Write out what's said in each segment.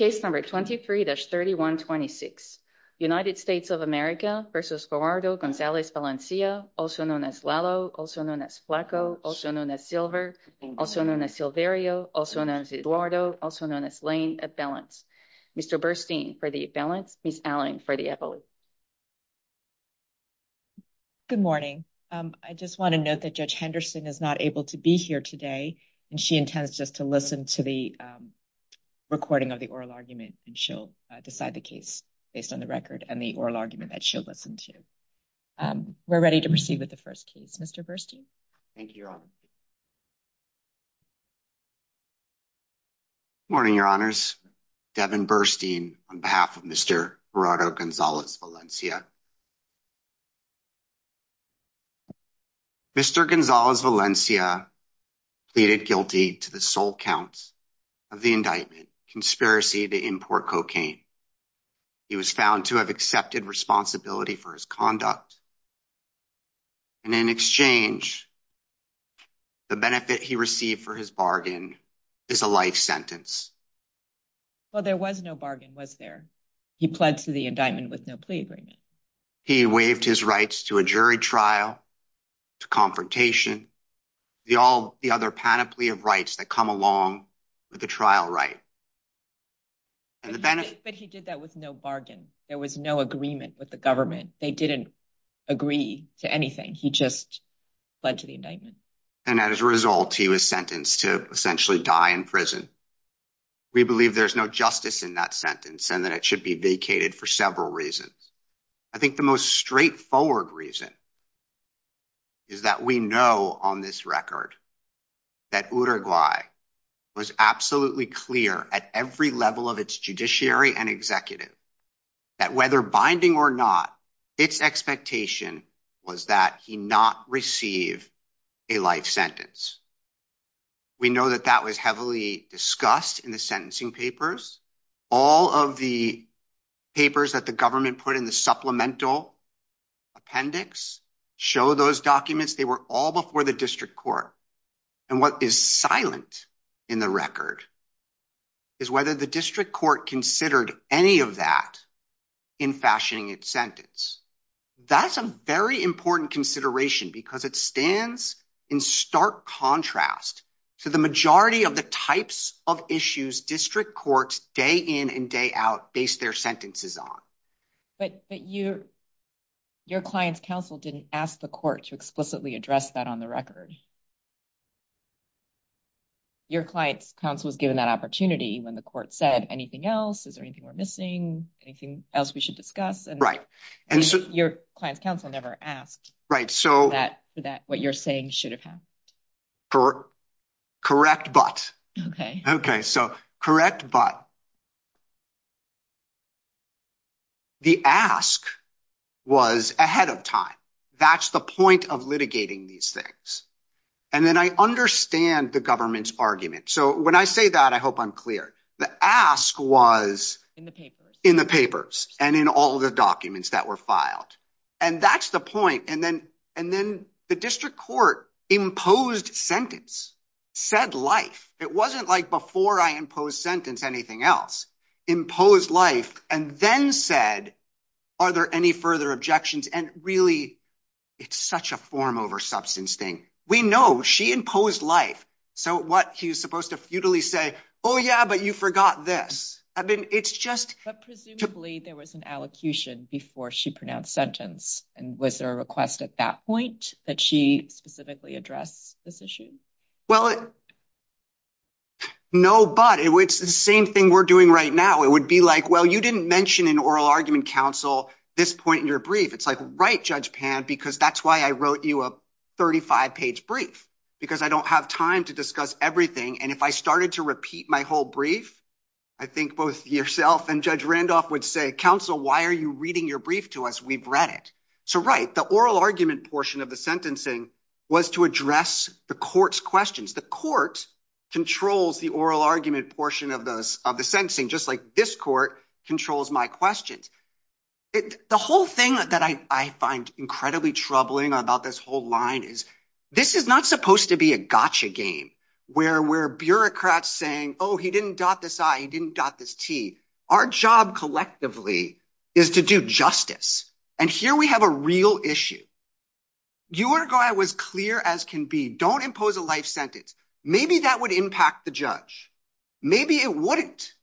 also known as Lalo, also known as Flacco, also known as Silver, also known as Silverio, also known as Eduardo, also known as Lane, at Balance. Mr. Burstein for the Balance, Ms. Allen for the Epoly. Good morning. I just want to note that Judge Henderson is not able to be here today, and she intends just to listen to the recording of the hearing. She'll listen to the recording of the oral argument, and she'll decide the case based on the record and the oral argument that she'll listen to. We're ready to proceed with the first case. Mr. Burstein. Thank you, Your Honor. Morning, Your Honors. Devin Burstein on behalf of Mr. Gerardo Gonzalez-Valencia. Mr. Gonzalez-Valencia pleaded guilty to the sole counts of the indictment, conspiracy to import cocaine. He was found to have accepted responsibility for his conduct. And in exchange, the benefit he received for his bargain is a life sentence. Well, there was no bargain, was there? He pled to the indictment with no plea agreement. He waived his rights to a jury trial, to confrontation, all the other panoply of rights that come along with the trial right. But he did that with no bargain. There was no agreement with the government. They didn't agree to anything. He just pled to the indictment. And as a result, he was sentenced to essentially die in prison. We believe there's no justice in that sentence and that it should be vacated for several reasons. I think the most straightforward reason is that we know on this record that Uruguay was absolutely clear at every level of its judiciary and executive that whether binding or not, its expectation was that he not receive a life sentence. We know that that was heavily discussed in the sentencing papers. All of the papers that the government put in the supplemental appendix show those documents. They were all before the district court. And what is silent in the record is whether the district court considered any of that in fashioning its sentence. That's a very important consideration because it stands in stark contrast to the majority of the types of issues district courts day in and day out base their sentences on. But your client's counsel didn't ask the court to explicitly address that on the record. Your client's counsel was given that opportunity when the court said anything else. Is there anything we're missing? Anything else we should discuss? And your client's counsel never asked that what you're saying should have happened. Correct. But. Okay. Okay. So correct. But. The ask was ahead of time. That's the point of litigating these things. And then I understand the government's argument. So when I say that, I hope I'm clear. The ask was in the papers and in all the documents that were filed. And that's the point. And then the district court imposed sentence, said life. It wasn't like before I imposed sentence anything else. Imposed life and then said, are there any further objections? And really, it's such a form over substance thing. We know she imposed life. So what he was supposed to futilely say, oh, yeah, but you forgot this. I mean, it's just presumably there was an allocution before she pronounced sentence. And was there a request at that point that she specifically address this issue? Well, no, but it's the same thing we're doing right now. It would be like, well, you didn't mention an oral argument counsel this point in your brief. It's like, right. Judge pan, because that's why I wrote you a 35 page brief, because I don't have time to discuss everything. And if I started to repeat my whole brief, I think both yourself and Judge Randolph would say, counsel, why are you reading your brief to us? We've read it. So, right. The oral argument portion of the sentencing was to address the court's questions. The court controls the oral argument portion of those of the sentencing, just like this court controls my questions. The whole thing that I find incredibly troubling about this whole line is this is not supposed to be a gotcha game where we're bureaucrats saying, oh, he didn't dot this. I didn't dot this T. Our job collectively is to do justice. And here we have a real issue. You want to go? I was clear as can be. Don't impose a life sentence. Maybe that would impact the judge. Maybe it wouldn't.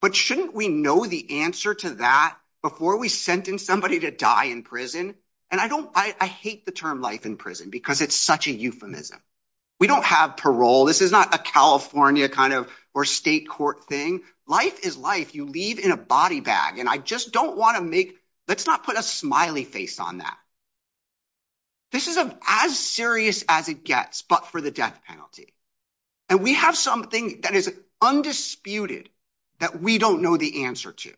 But shouldn't we know the answer to that before we sentence somebody to die in prison? And I don't I hate the term life in prison because it's such a euphemism. We don't have parole. This is not a California kind of or state court thing. Life is life. You leave in a body bag. And I just don't want to make let's not put a smiley face on that. This is as serious as it gets, but for the death penalty and we have something that is undisputed that we don't know the answer to.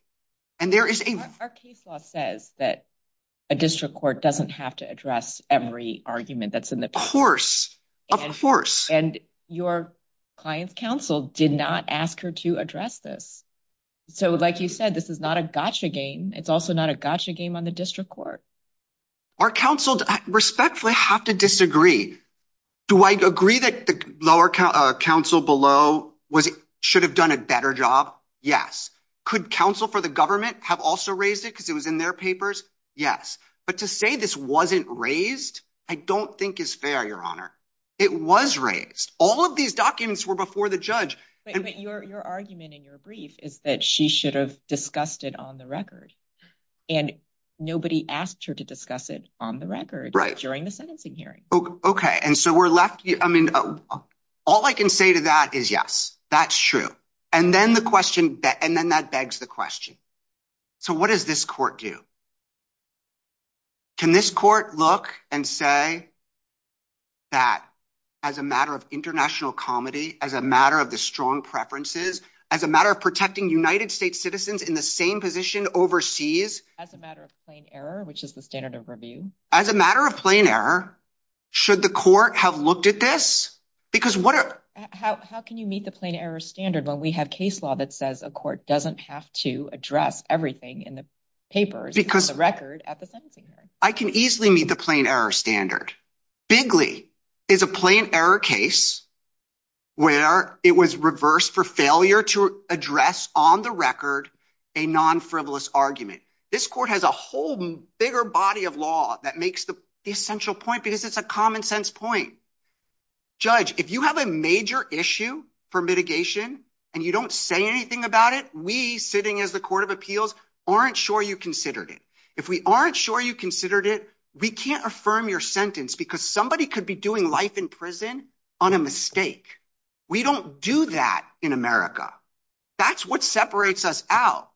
And there is a case law says that a district court doesn't have to address every argument that's in the course of course. And your client's counsel did not ask her to address this. So, like you said, this is not a gotcha game. It's also not a gotcha game on the district court. Our counsel respectfully have to disagree. Do I agree that the lower council below was should have done a better job? Yes. Could counsel for the government have also raised it because it was in their papers? Yes. But to say this wasn't raised, I don't think is fair, Your Honor. It was raised. All of these documents were before the judge. But your argument in your brief is that she should have discussed it on the record. And nobody asked her to discuss it on the record during the sentencing hearing. OK. And so we're left. I mean, all I can say to that is, yes, that's true. And then the question and then that begs the question. So what does this court do? Can this court look and say that as a matter of international comedy, as a matter of the strong preferences, as a matter of protecting United States citizens in the same position overseas, as a matter of plain error, which is the standard of review, as a matter of plain error, should the court have looked at this? Because how can you meet the plain error standard when we have case law that says a court doesn't have to address everything in the papers? Because the record at the sentencing. I can easily meet the plain error standard. Bigly is a plain error case where it was reversed for failure to address on the record a non frivolous argument. This court has a whole bigger body of law that makes the essential point because it's a common sense point. Judge, if you have a major issue for mitigation and you don't say anything about it, we sitting as the court of appeals aren't sure you considered it. If we aren't sure you considered it, we can't affirm your sentence because somebody could be doing life in prison on a mistake. We don't do that in America. That's what separates us out.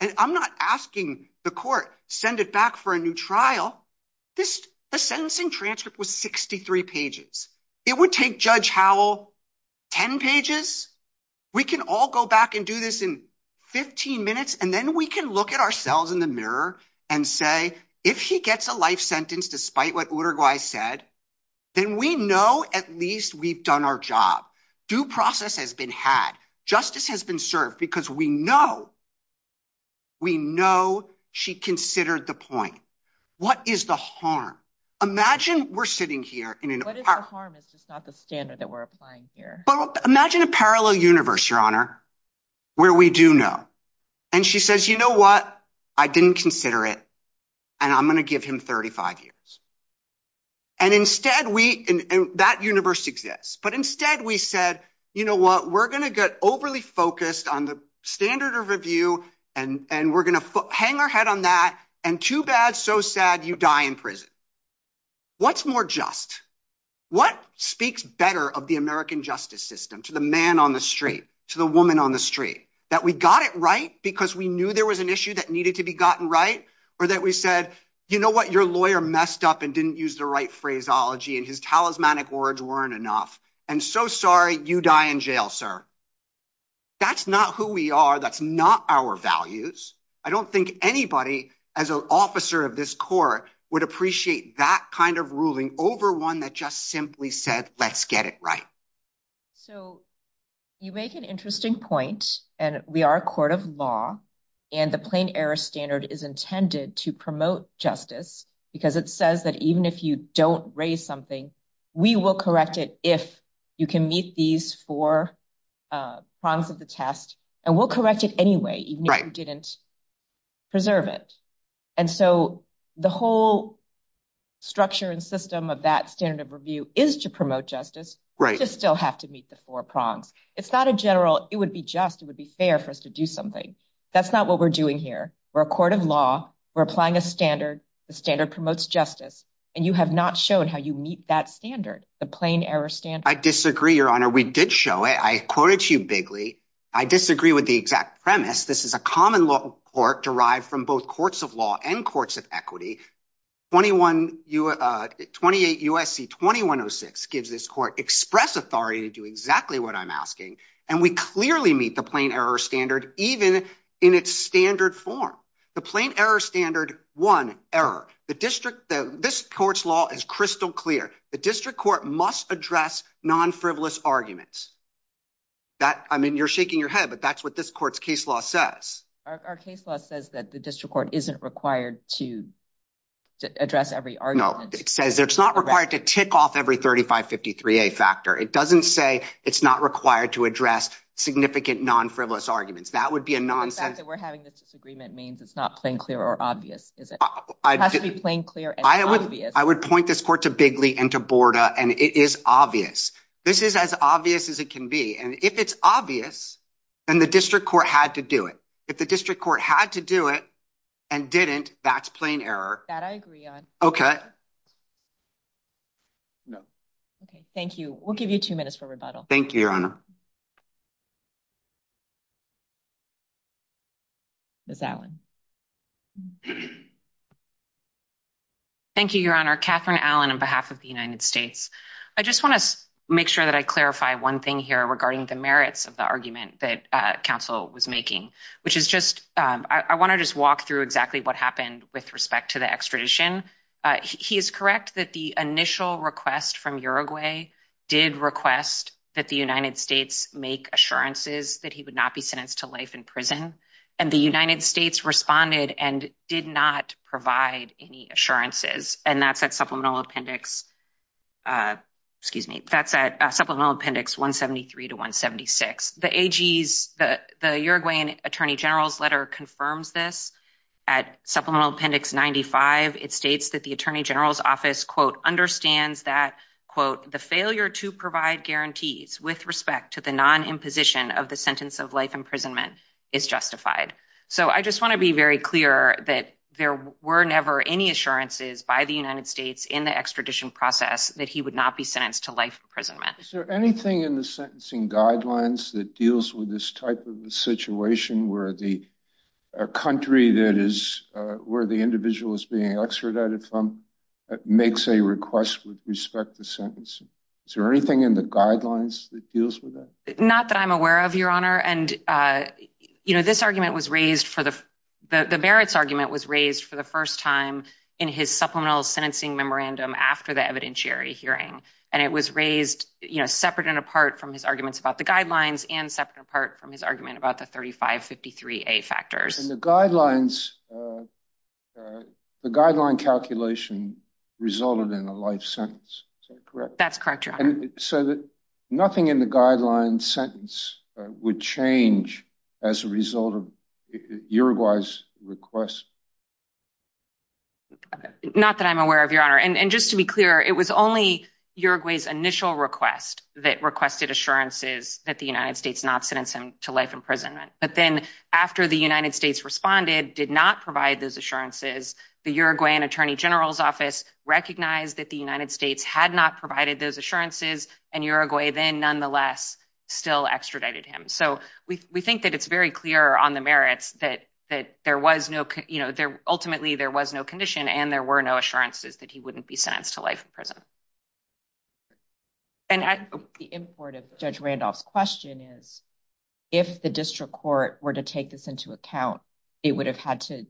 And I'm not asking the court, send it back for a new trial. This the sentencing transcript was 63 pages. It would take Judge Howell 10 pages. We can all go back and do this in 15 minutes and then we can look at ourselves in the mirror and say, if he gets a life sentence, despite what Uruguay said, then we know at least we've done our job. Due process has been had. Justice has been served because we know. We know she considered the point. What is the harm? Imagine we're sitting here in harm is just not the standard that we're applying here. But imagine a parallel universe, your honor, where we do know. And she says, you know what? I didn't consider it. And I'm going to give him 35 years. And instead, we that universe exists. But instead, we said, you know what? We're going to get overly focused on the standard of review and we're going to hang our head on that. And too bad. So sad. You die in prison. What's more just? What speaks better of the American justice system to the man on the street, to the woman on the street, that we got it right because we knew there was an issue that needed to be gotten right or that we said, you know what? Your lawyer messed up and didn't use the right phraseology and his talismanic words weren't enough. And so sorry you die in jail, sir. That's not who we are. That's not our values. I don't think anybody as an officer of this court would appreciate that kind of ruling over one that just simply said, let's get it right. So you make an interesting point, and we are a court of law and the plain error standard is intended to promote justice because it says that even if you don't raise something, we will correct it if you can meet these four prongs of the test and we'll correct it anyway, even if you didn't preserve it. And so the whole structure and system of that standard of review is to promote justice. Right. Just still have to meet the four prongs. It's not a general. It would be just it would be fair for us to do something. That's not what we're doing here. We're a court of law. We're applying a standard. The standard promotes justice. And you have not shown how you meet that standard. The plain error stand. I disagree, Your Honor. We did show it. I quoted you bigly. I disagree with the exact premise. This is a common law court derived from both courts of law and courts of equity. Twenty one. Twenty eight U.S.C. twenty one oh six gives this court express authority to do exactly what I'm asking. And we clearly meet the plain error standard even in its standard form. The plain error standard. One error. The district. This court's law is crystal clear. The district court must address non frivolous arguments. That I mean, you're shaking your head, but that's what this court's case law says. Our case law says that the district court isn't required to address every argument. It says it's not required to tick off every thirty five fifty three a factor. It doesn't say it's not required to address significant non frivolous arguments. That would be a nonsense that we're having. This agreement means it's not plain clear or obvious. Is it plain clear? I would I would point this court to Bigley and to Borda. And it is obvious this is as obvious as it can be. And if it's obvious and the district court had to do it, if the district court had to do it and didn't, that's plain error. That I agree on. OK. No. OK, thank you. We'll give you two minutes for rebuttal. Thank you, Your Honor. Miss Allen. Thank you, Your Honor. Catherine Allen, on behalf of the United States, I just want to make sure that I clarify one thing here regarding the merits of the argument that counsel was making, which is just I want to just walk through exactly what happened with respect to the extradition. He is correct that the initial request from Uruguay did request that the United States make assurances that he would not be sentenced to life in prison. And the United States responded and did not provide any assurances. And that's that supplemental appendix. Excuse me. That's a supplemental appendix. 173 to 176. The AGs that the Uruguayan attorney general's letter confirms this at supplemental appendix 95. It states that the attorney general's office, quote, understands that, quote, the failure to provide guarantees with respect to the non imposition of the sentence of life imprisonment is justified. So I just want to be very clear that there were never any assurances by the United States in the extradition process that he would not be sentenced to life imprisonment. Is there anything in the sentencing guidelines that deals with this type of a situation where the country that is where the individual is being extradited from makes a request with respect to sentencing? Is there anything in the guidelines that deals with that? Not that I'm aware of, Your Honor. And, you know, this argument was raised for the the merits argument was raised for the first time in his supplemental sentencing memorandum after the evidentiary hearing. And it was raised, you know, separate and apart from his arguments about the guidelines and separate and apart from his argument about the thirty five fifty three a factors in the guidelines. The guideline calculation resulted in a life sentence. Correct. That's correct. So nothing in the guideline sentence would change as a result of Uruguay's request. Not that I'm aware of, Your Honor, and just to be clear, it was only Uruguay's initial request that requested assurances that the United States not sentence him to life imprisonment. But then after the United States responded, did not provide those assurances. The Uruguayan attorney general's office recognized that the United States had not provided those assurances. And Uruguay then nonetheless still extradited him. So we think that it's very clear on the merits that that there was no there. Ultimately, there was no condition and there were no assurances that he wouldn't be sentenced to life in prison. And the import of Judge Randolph's question is, if the district court were to take this into account, it would have had to.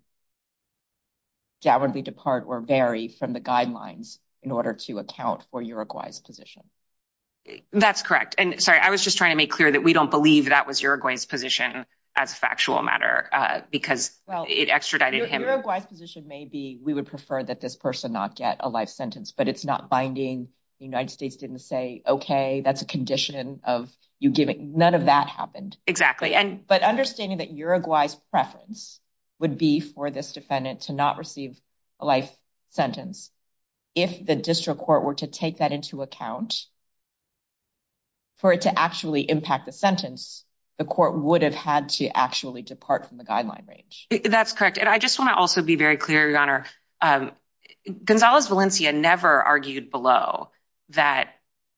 That would be depart or vary from the guidelines in order to account for Uruguay's position. That's correct. And sorry, I was just trying to make clear that we don't believe that was Uruguay's position as a factual matter because it extradited him. Uruguay's position may be we would prefer that this person not get a life sentence, but it's not binding. The United States didn't say, OK, that's a condition of you giving none of that happened. Exactly. And but understanding that Uruguay's preference would be for this defendant to not receive a life sentence. If the district court were to take that into account. For it to actually impact the sentence, the court would have had to actually depart from the guideline range. That's correct. And I just want to also be very clear, your honor. Gonzalez Valencia never argued below that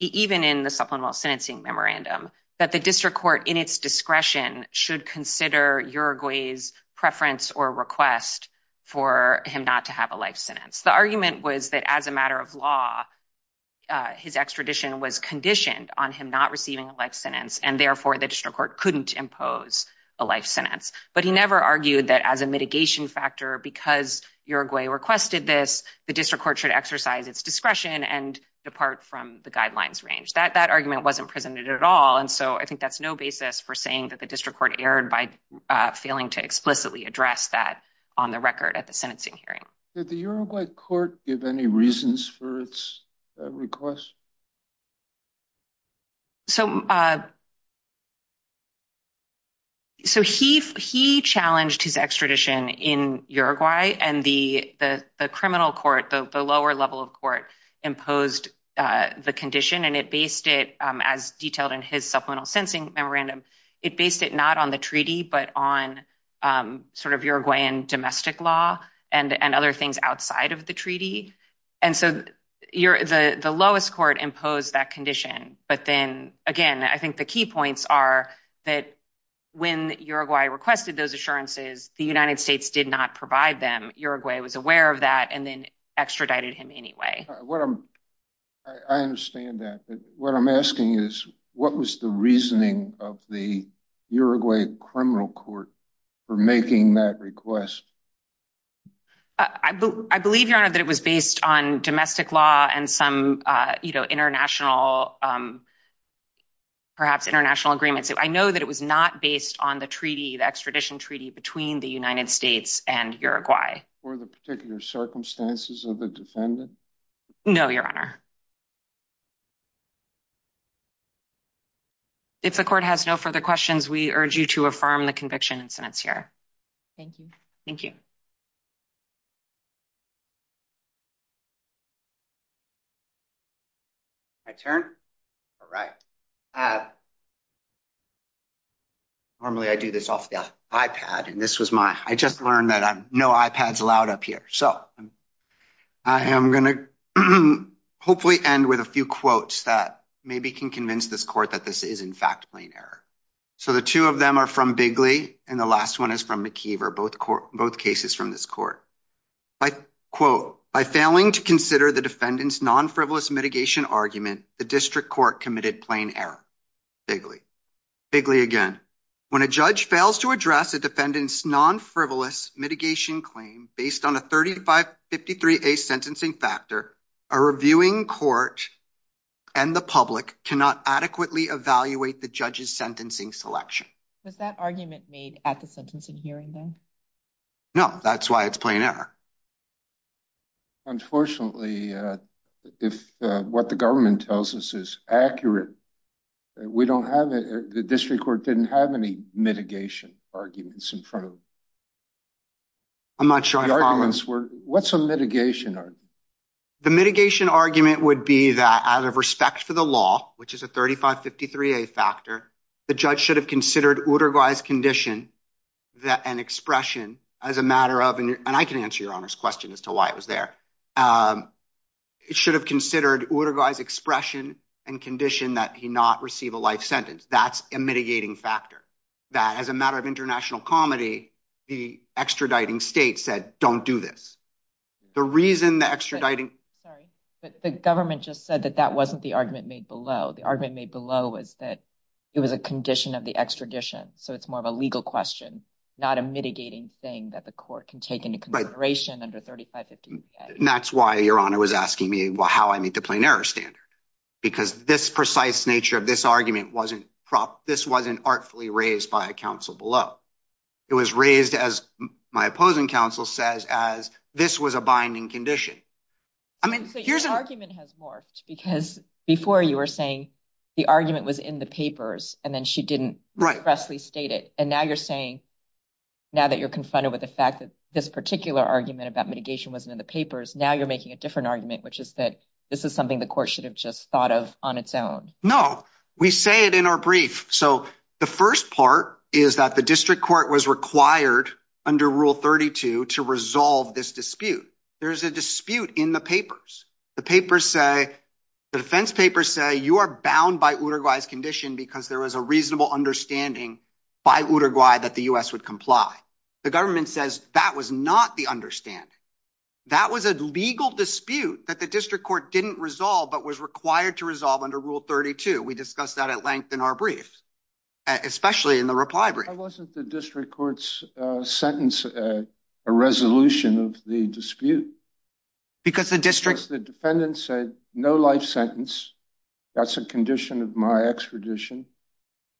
even in the supplemental sentencing memorandum that the district court in its discretion should consider Uruguay's preference or request for him not to have a life sentence. The argument was that as a matter of law, his extradition was conditioned on him not receiving a life sentence and therefore the district court couldn't impose a life sentence. But he never argued that as a mitigation factor, because Uruguay requested this, the district court should exercise its discretion and depart from the guidelines range. That that argument wasn't presented at all. And so I think that's no basis for saying that the district court erred by failing to explicitly address that on the record at the sentencing hearing. Did the Uruguay court give any reasons for its request? So. So he he challenged his extradition in Uruguay and the criminal court, the lower level of court imposed the condition and it based it as detailed in his supplemental sentencing memorandum. It based it not on the treaty, but on sort of Uruguayan domestic law and and other things outside of the treaty. And so you're the lowest court imposed that condition. But then again, I think the key points are that when Uruguay requested those assurances, the United States did not provide them. Uruguay was aware of that and then extradited him anyway. I understand that. But what I'm asking is, what was the reasoning of the Uruguay criminal court for making that request? I believe, Your Honor, that it was based on domestic law and some international. Perhaps international agreements. I know that it was not based on the treaty, the extradition treaty between the United States and Uruguay. For the particular circumstances of the defendant? No, Your Honor. If the court has no further questions, we urge you to affirm the conviction and sentence here. Thank you. Thank you. I turn right. Normally, I do this off the iPad and this was my I just learned that no iPads allowed up here. So I am going to hopefully end with a few quotes that maybe can convince this court that this is, in fact, plain error. So the two of them are from Bigley and the last one is from McKeever. Both cases from this court by, quote, by failing to consider the defendant's non-frivolous mitigation argument, the district court committed plain error. Bigley, Bigley again, when a judge fails to address a defendant's non-frivolous mitigation claim based on a thirty five fifty three a sentencing factor, a reviewing court and the public cannot adequately evaluate the judge's sentencing selection. Was that argument made at the sentencing hearing? No, that's why it's plain error. Unfortunately, if what the government tells us is accurate, we don't have the district court didn't have any mitigation arguments in front of. I'm not sure what's a mitigation or the mitigation argument would be that out of respect for the law, which is a thirty five fifty three a factor, the judge should have considered order wise condition that an expression as a matter of. And I can answer your honor's question as to why it was there. It should have considered order wise expression and condition that he not receive a life sentence. That's a mitigating factor that as a matter of international comedy, the extraditing state said, don't do this. The reason the extraditing. Sorry, but the government just said that that wasn't the argument made below. The argument made below was that it was a condition of the extradition. So it's more of a legal question, not a mitigating thing that the court can take into consideration under thirty five. And that's why your honor was asking me how I meet the plain error standard, because this precise nature of this argument wasn't prop. This wasn't artfully raised by a council below. It was raised, as my opposing counsel says, as this was a binding condition. I mean, here's an argument has morphed because before you were saying the argument was in the papers and then she didn't expressly state it. And now you're saying now that you're confronted with the fact that this particular argument about mitigation wasn't in the papers. Now you're making a different argument, which is that this is something the court should have just thought of on its own. No, we say it in our brief. So the first part is that the district court was required under Rule 32 to resolve this dispute. There is a dispute in the papers. The papers say the defense papers say you are bound by Uruguay's condition because there is a reasonable understanding by Uruguay that the U.S. would comply. The government says that was not the understanding. That was a legal dispute that the district court didn't resolve, but was required to resolve under Rule 32. We discussed that at length in our brief, especially in the reply. Why wasn't the district court's sentence a resolution of the dispute? Because the district. The defendant said no life sentence. That's a condition of my extradition.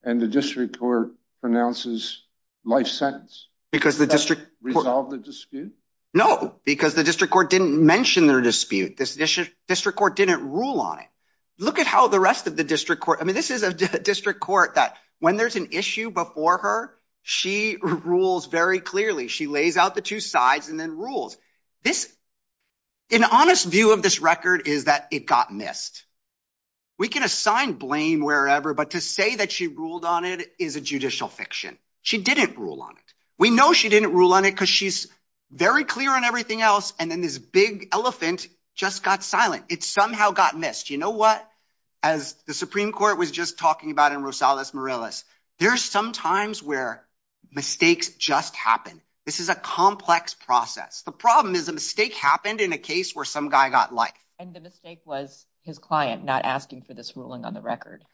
And the district court pronounces life sentence. Because the district court. Resolved the dispute? No, because the district court didn't mention their dispute. This district court didn't rule on it. Look at how the rest of the district court. I mean, this is a district court that when there's an issue before her, she rules very clearly. She lays out the two sides and then rules this. An honest view of this record is that it got missed. We can assign blame wherever, but to say that she ruled on it is a judicial fiction. She didn't rule on it. We know she didn't rule on it because she's very clear on everything else. And then this big elephant just got silent. It somehow got missed. You know what? As the Supreme Court was just talking about in Rosales Morales, there's some times where mistakes just happen. This is a complex process. The problem is a mistake happened in a case where some guy got life. And the mistake was his client not asking for this ruling on the record.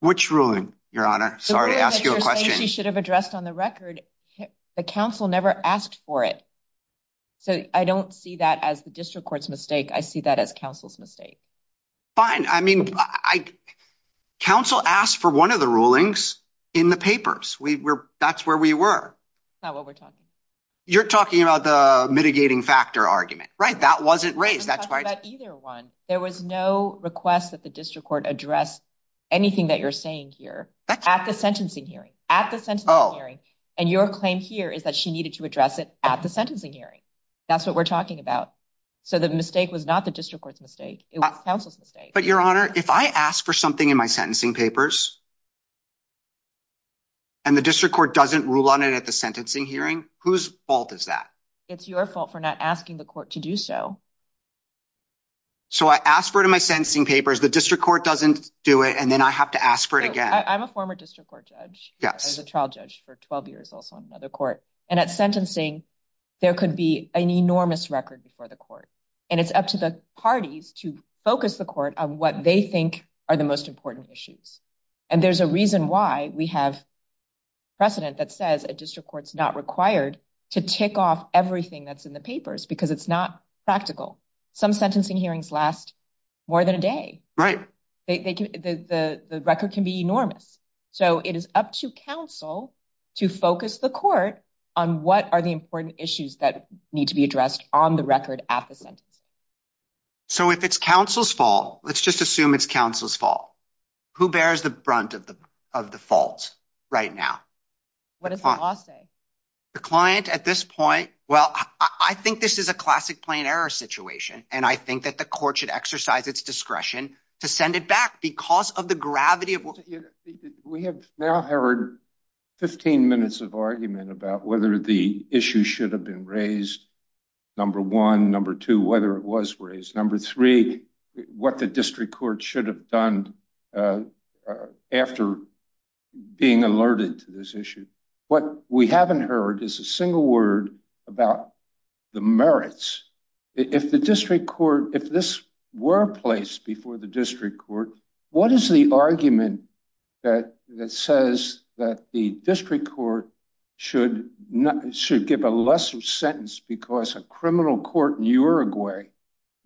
Which ruling your honor? Sorry to ask you a question. You should have addressed on the record. The council never asked for it. So I don't see that as the district court's mistake. I see that as counsel's mistake. Fine. I mean, I counsel asked for one of the rulings in the papers. We were. That's where we were. Now, what we're talking, you're talking about the mitigating factor argument, right? That wasn't raised. That's right. Either one. There was no request that the district court address anything that you're saying here at the sentencing hearing at the center. And your claim here is that she needed to address it at the sentencing hearing. That's what we're talking about. So the mistake was not the district court's mistake. It was counsel's mistake. But your honor, if I ask for something in my sentencing papers. And the district court doesn't rule on it at the sentencing hearing. Whose fault is that? It's your fault for not asking the court to do so. So I asked for it in my sentencing papers. The district court doesn't do it. And then I have to ask for it again. I'm a former district court judge as a trial judge for 12 years, also on another court. And at sentencing, there could be an enormous record before the court. And it's up to the parties to focus the court on what they think are the most important issues. And there's a reason why we have precedent that says a district court is not required to tick off everything that's in the papers because it's not practical. Some sentencing hearings last more than a day. The record can be enormous. So it is up to counsel to focus the court on what are the important issues that need to be addressed on the record at the sentencing. So if it's counsel's fault, let's just assume it's counsel's fault. Who bears the brunt of the fault right now? What does the law say? The client at this point. Well, I think this is a classic plain error situation. And I think that the court should exercise its discretion to send it back because of the gravity of what we have now heard. 15 minutes of argument about whether the issue should have been raised. Number one, number two, whether it was raised number three, what the district court should have done after being alerted to this issue. What we haven't heard is a single word about the merits. If the district court if this were placed before the district court. What is the argument that that says that the district court should not should give a lesser sentence because a criminal court in Uruguay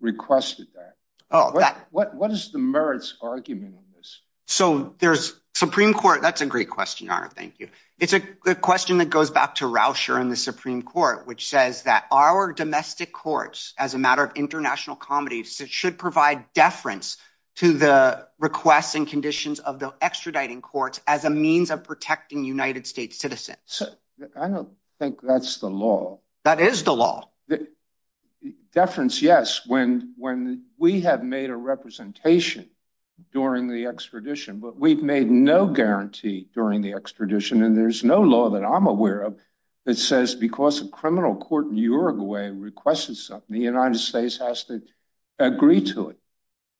requested that? Oh, what is the merits argument on this? So there's Supreme Court. That's a great question. Thank you. It's a question that goes back to Rousher in the Supreme Court, which says that our domestic courts, as a matter of international comedy, should provide deference to the requests and conditions of the extraditing courts as a means of protecting United States citizens. I don't think that's the law. That is the law. Deference, yes. When when we have made a representation during the extradition, but we've made no guarantee during the extradition. And there's no law that I'm aware of that says because a criminal court in Uruguay requested something, the United States has to agree to it.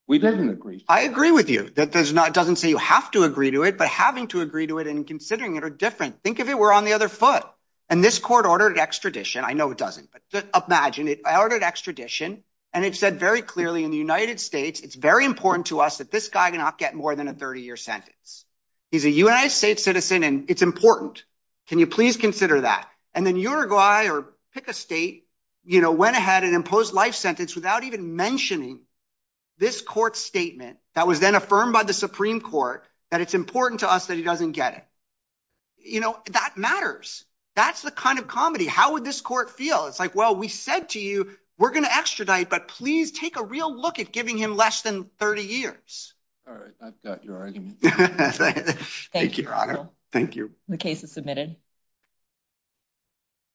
We didn't agree. I agree with you that there's not doesn't say you have to agree to it, but having to agree to it and considering it are different. Think of it. We're on the other foot. And this court ordered extradition. I know it doesn't. But imagine it ordered extradition. And it said very clearly in the United States, it's very important to us that this guy cannot get more than a 30 year sentence. He's a United States citizen, and it's important. Can you please consider that? And then Uruguay or pick a state, you know, went ahead and imposed life sentence without even mentioning this court statement that was then affirmed by the Supreme Court that it's important to us that he doesn't get it. You know, that matters. That's the kind of comedy. How would this court feel? It's like, well, we said to you, we're going to extradite, but please take a real look at giving him less than 30 years. All right. I've got your argument. Thank you. Thank you. The case is submitted.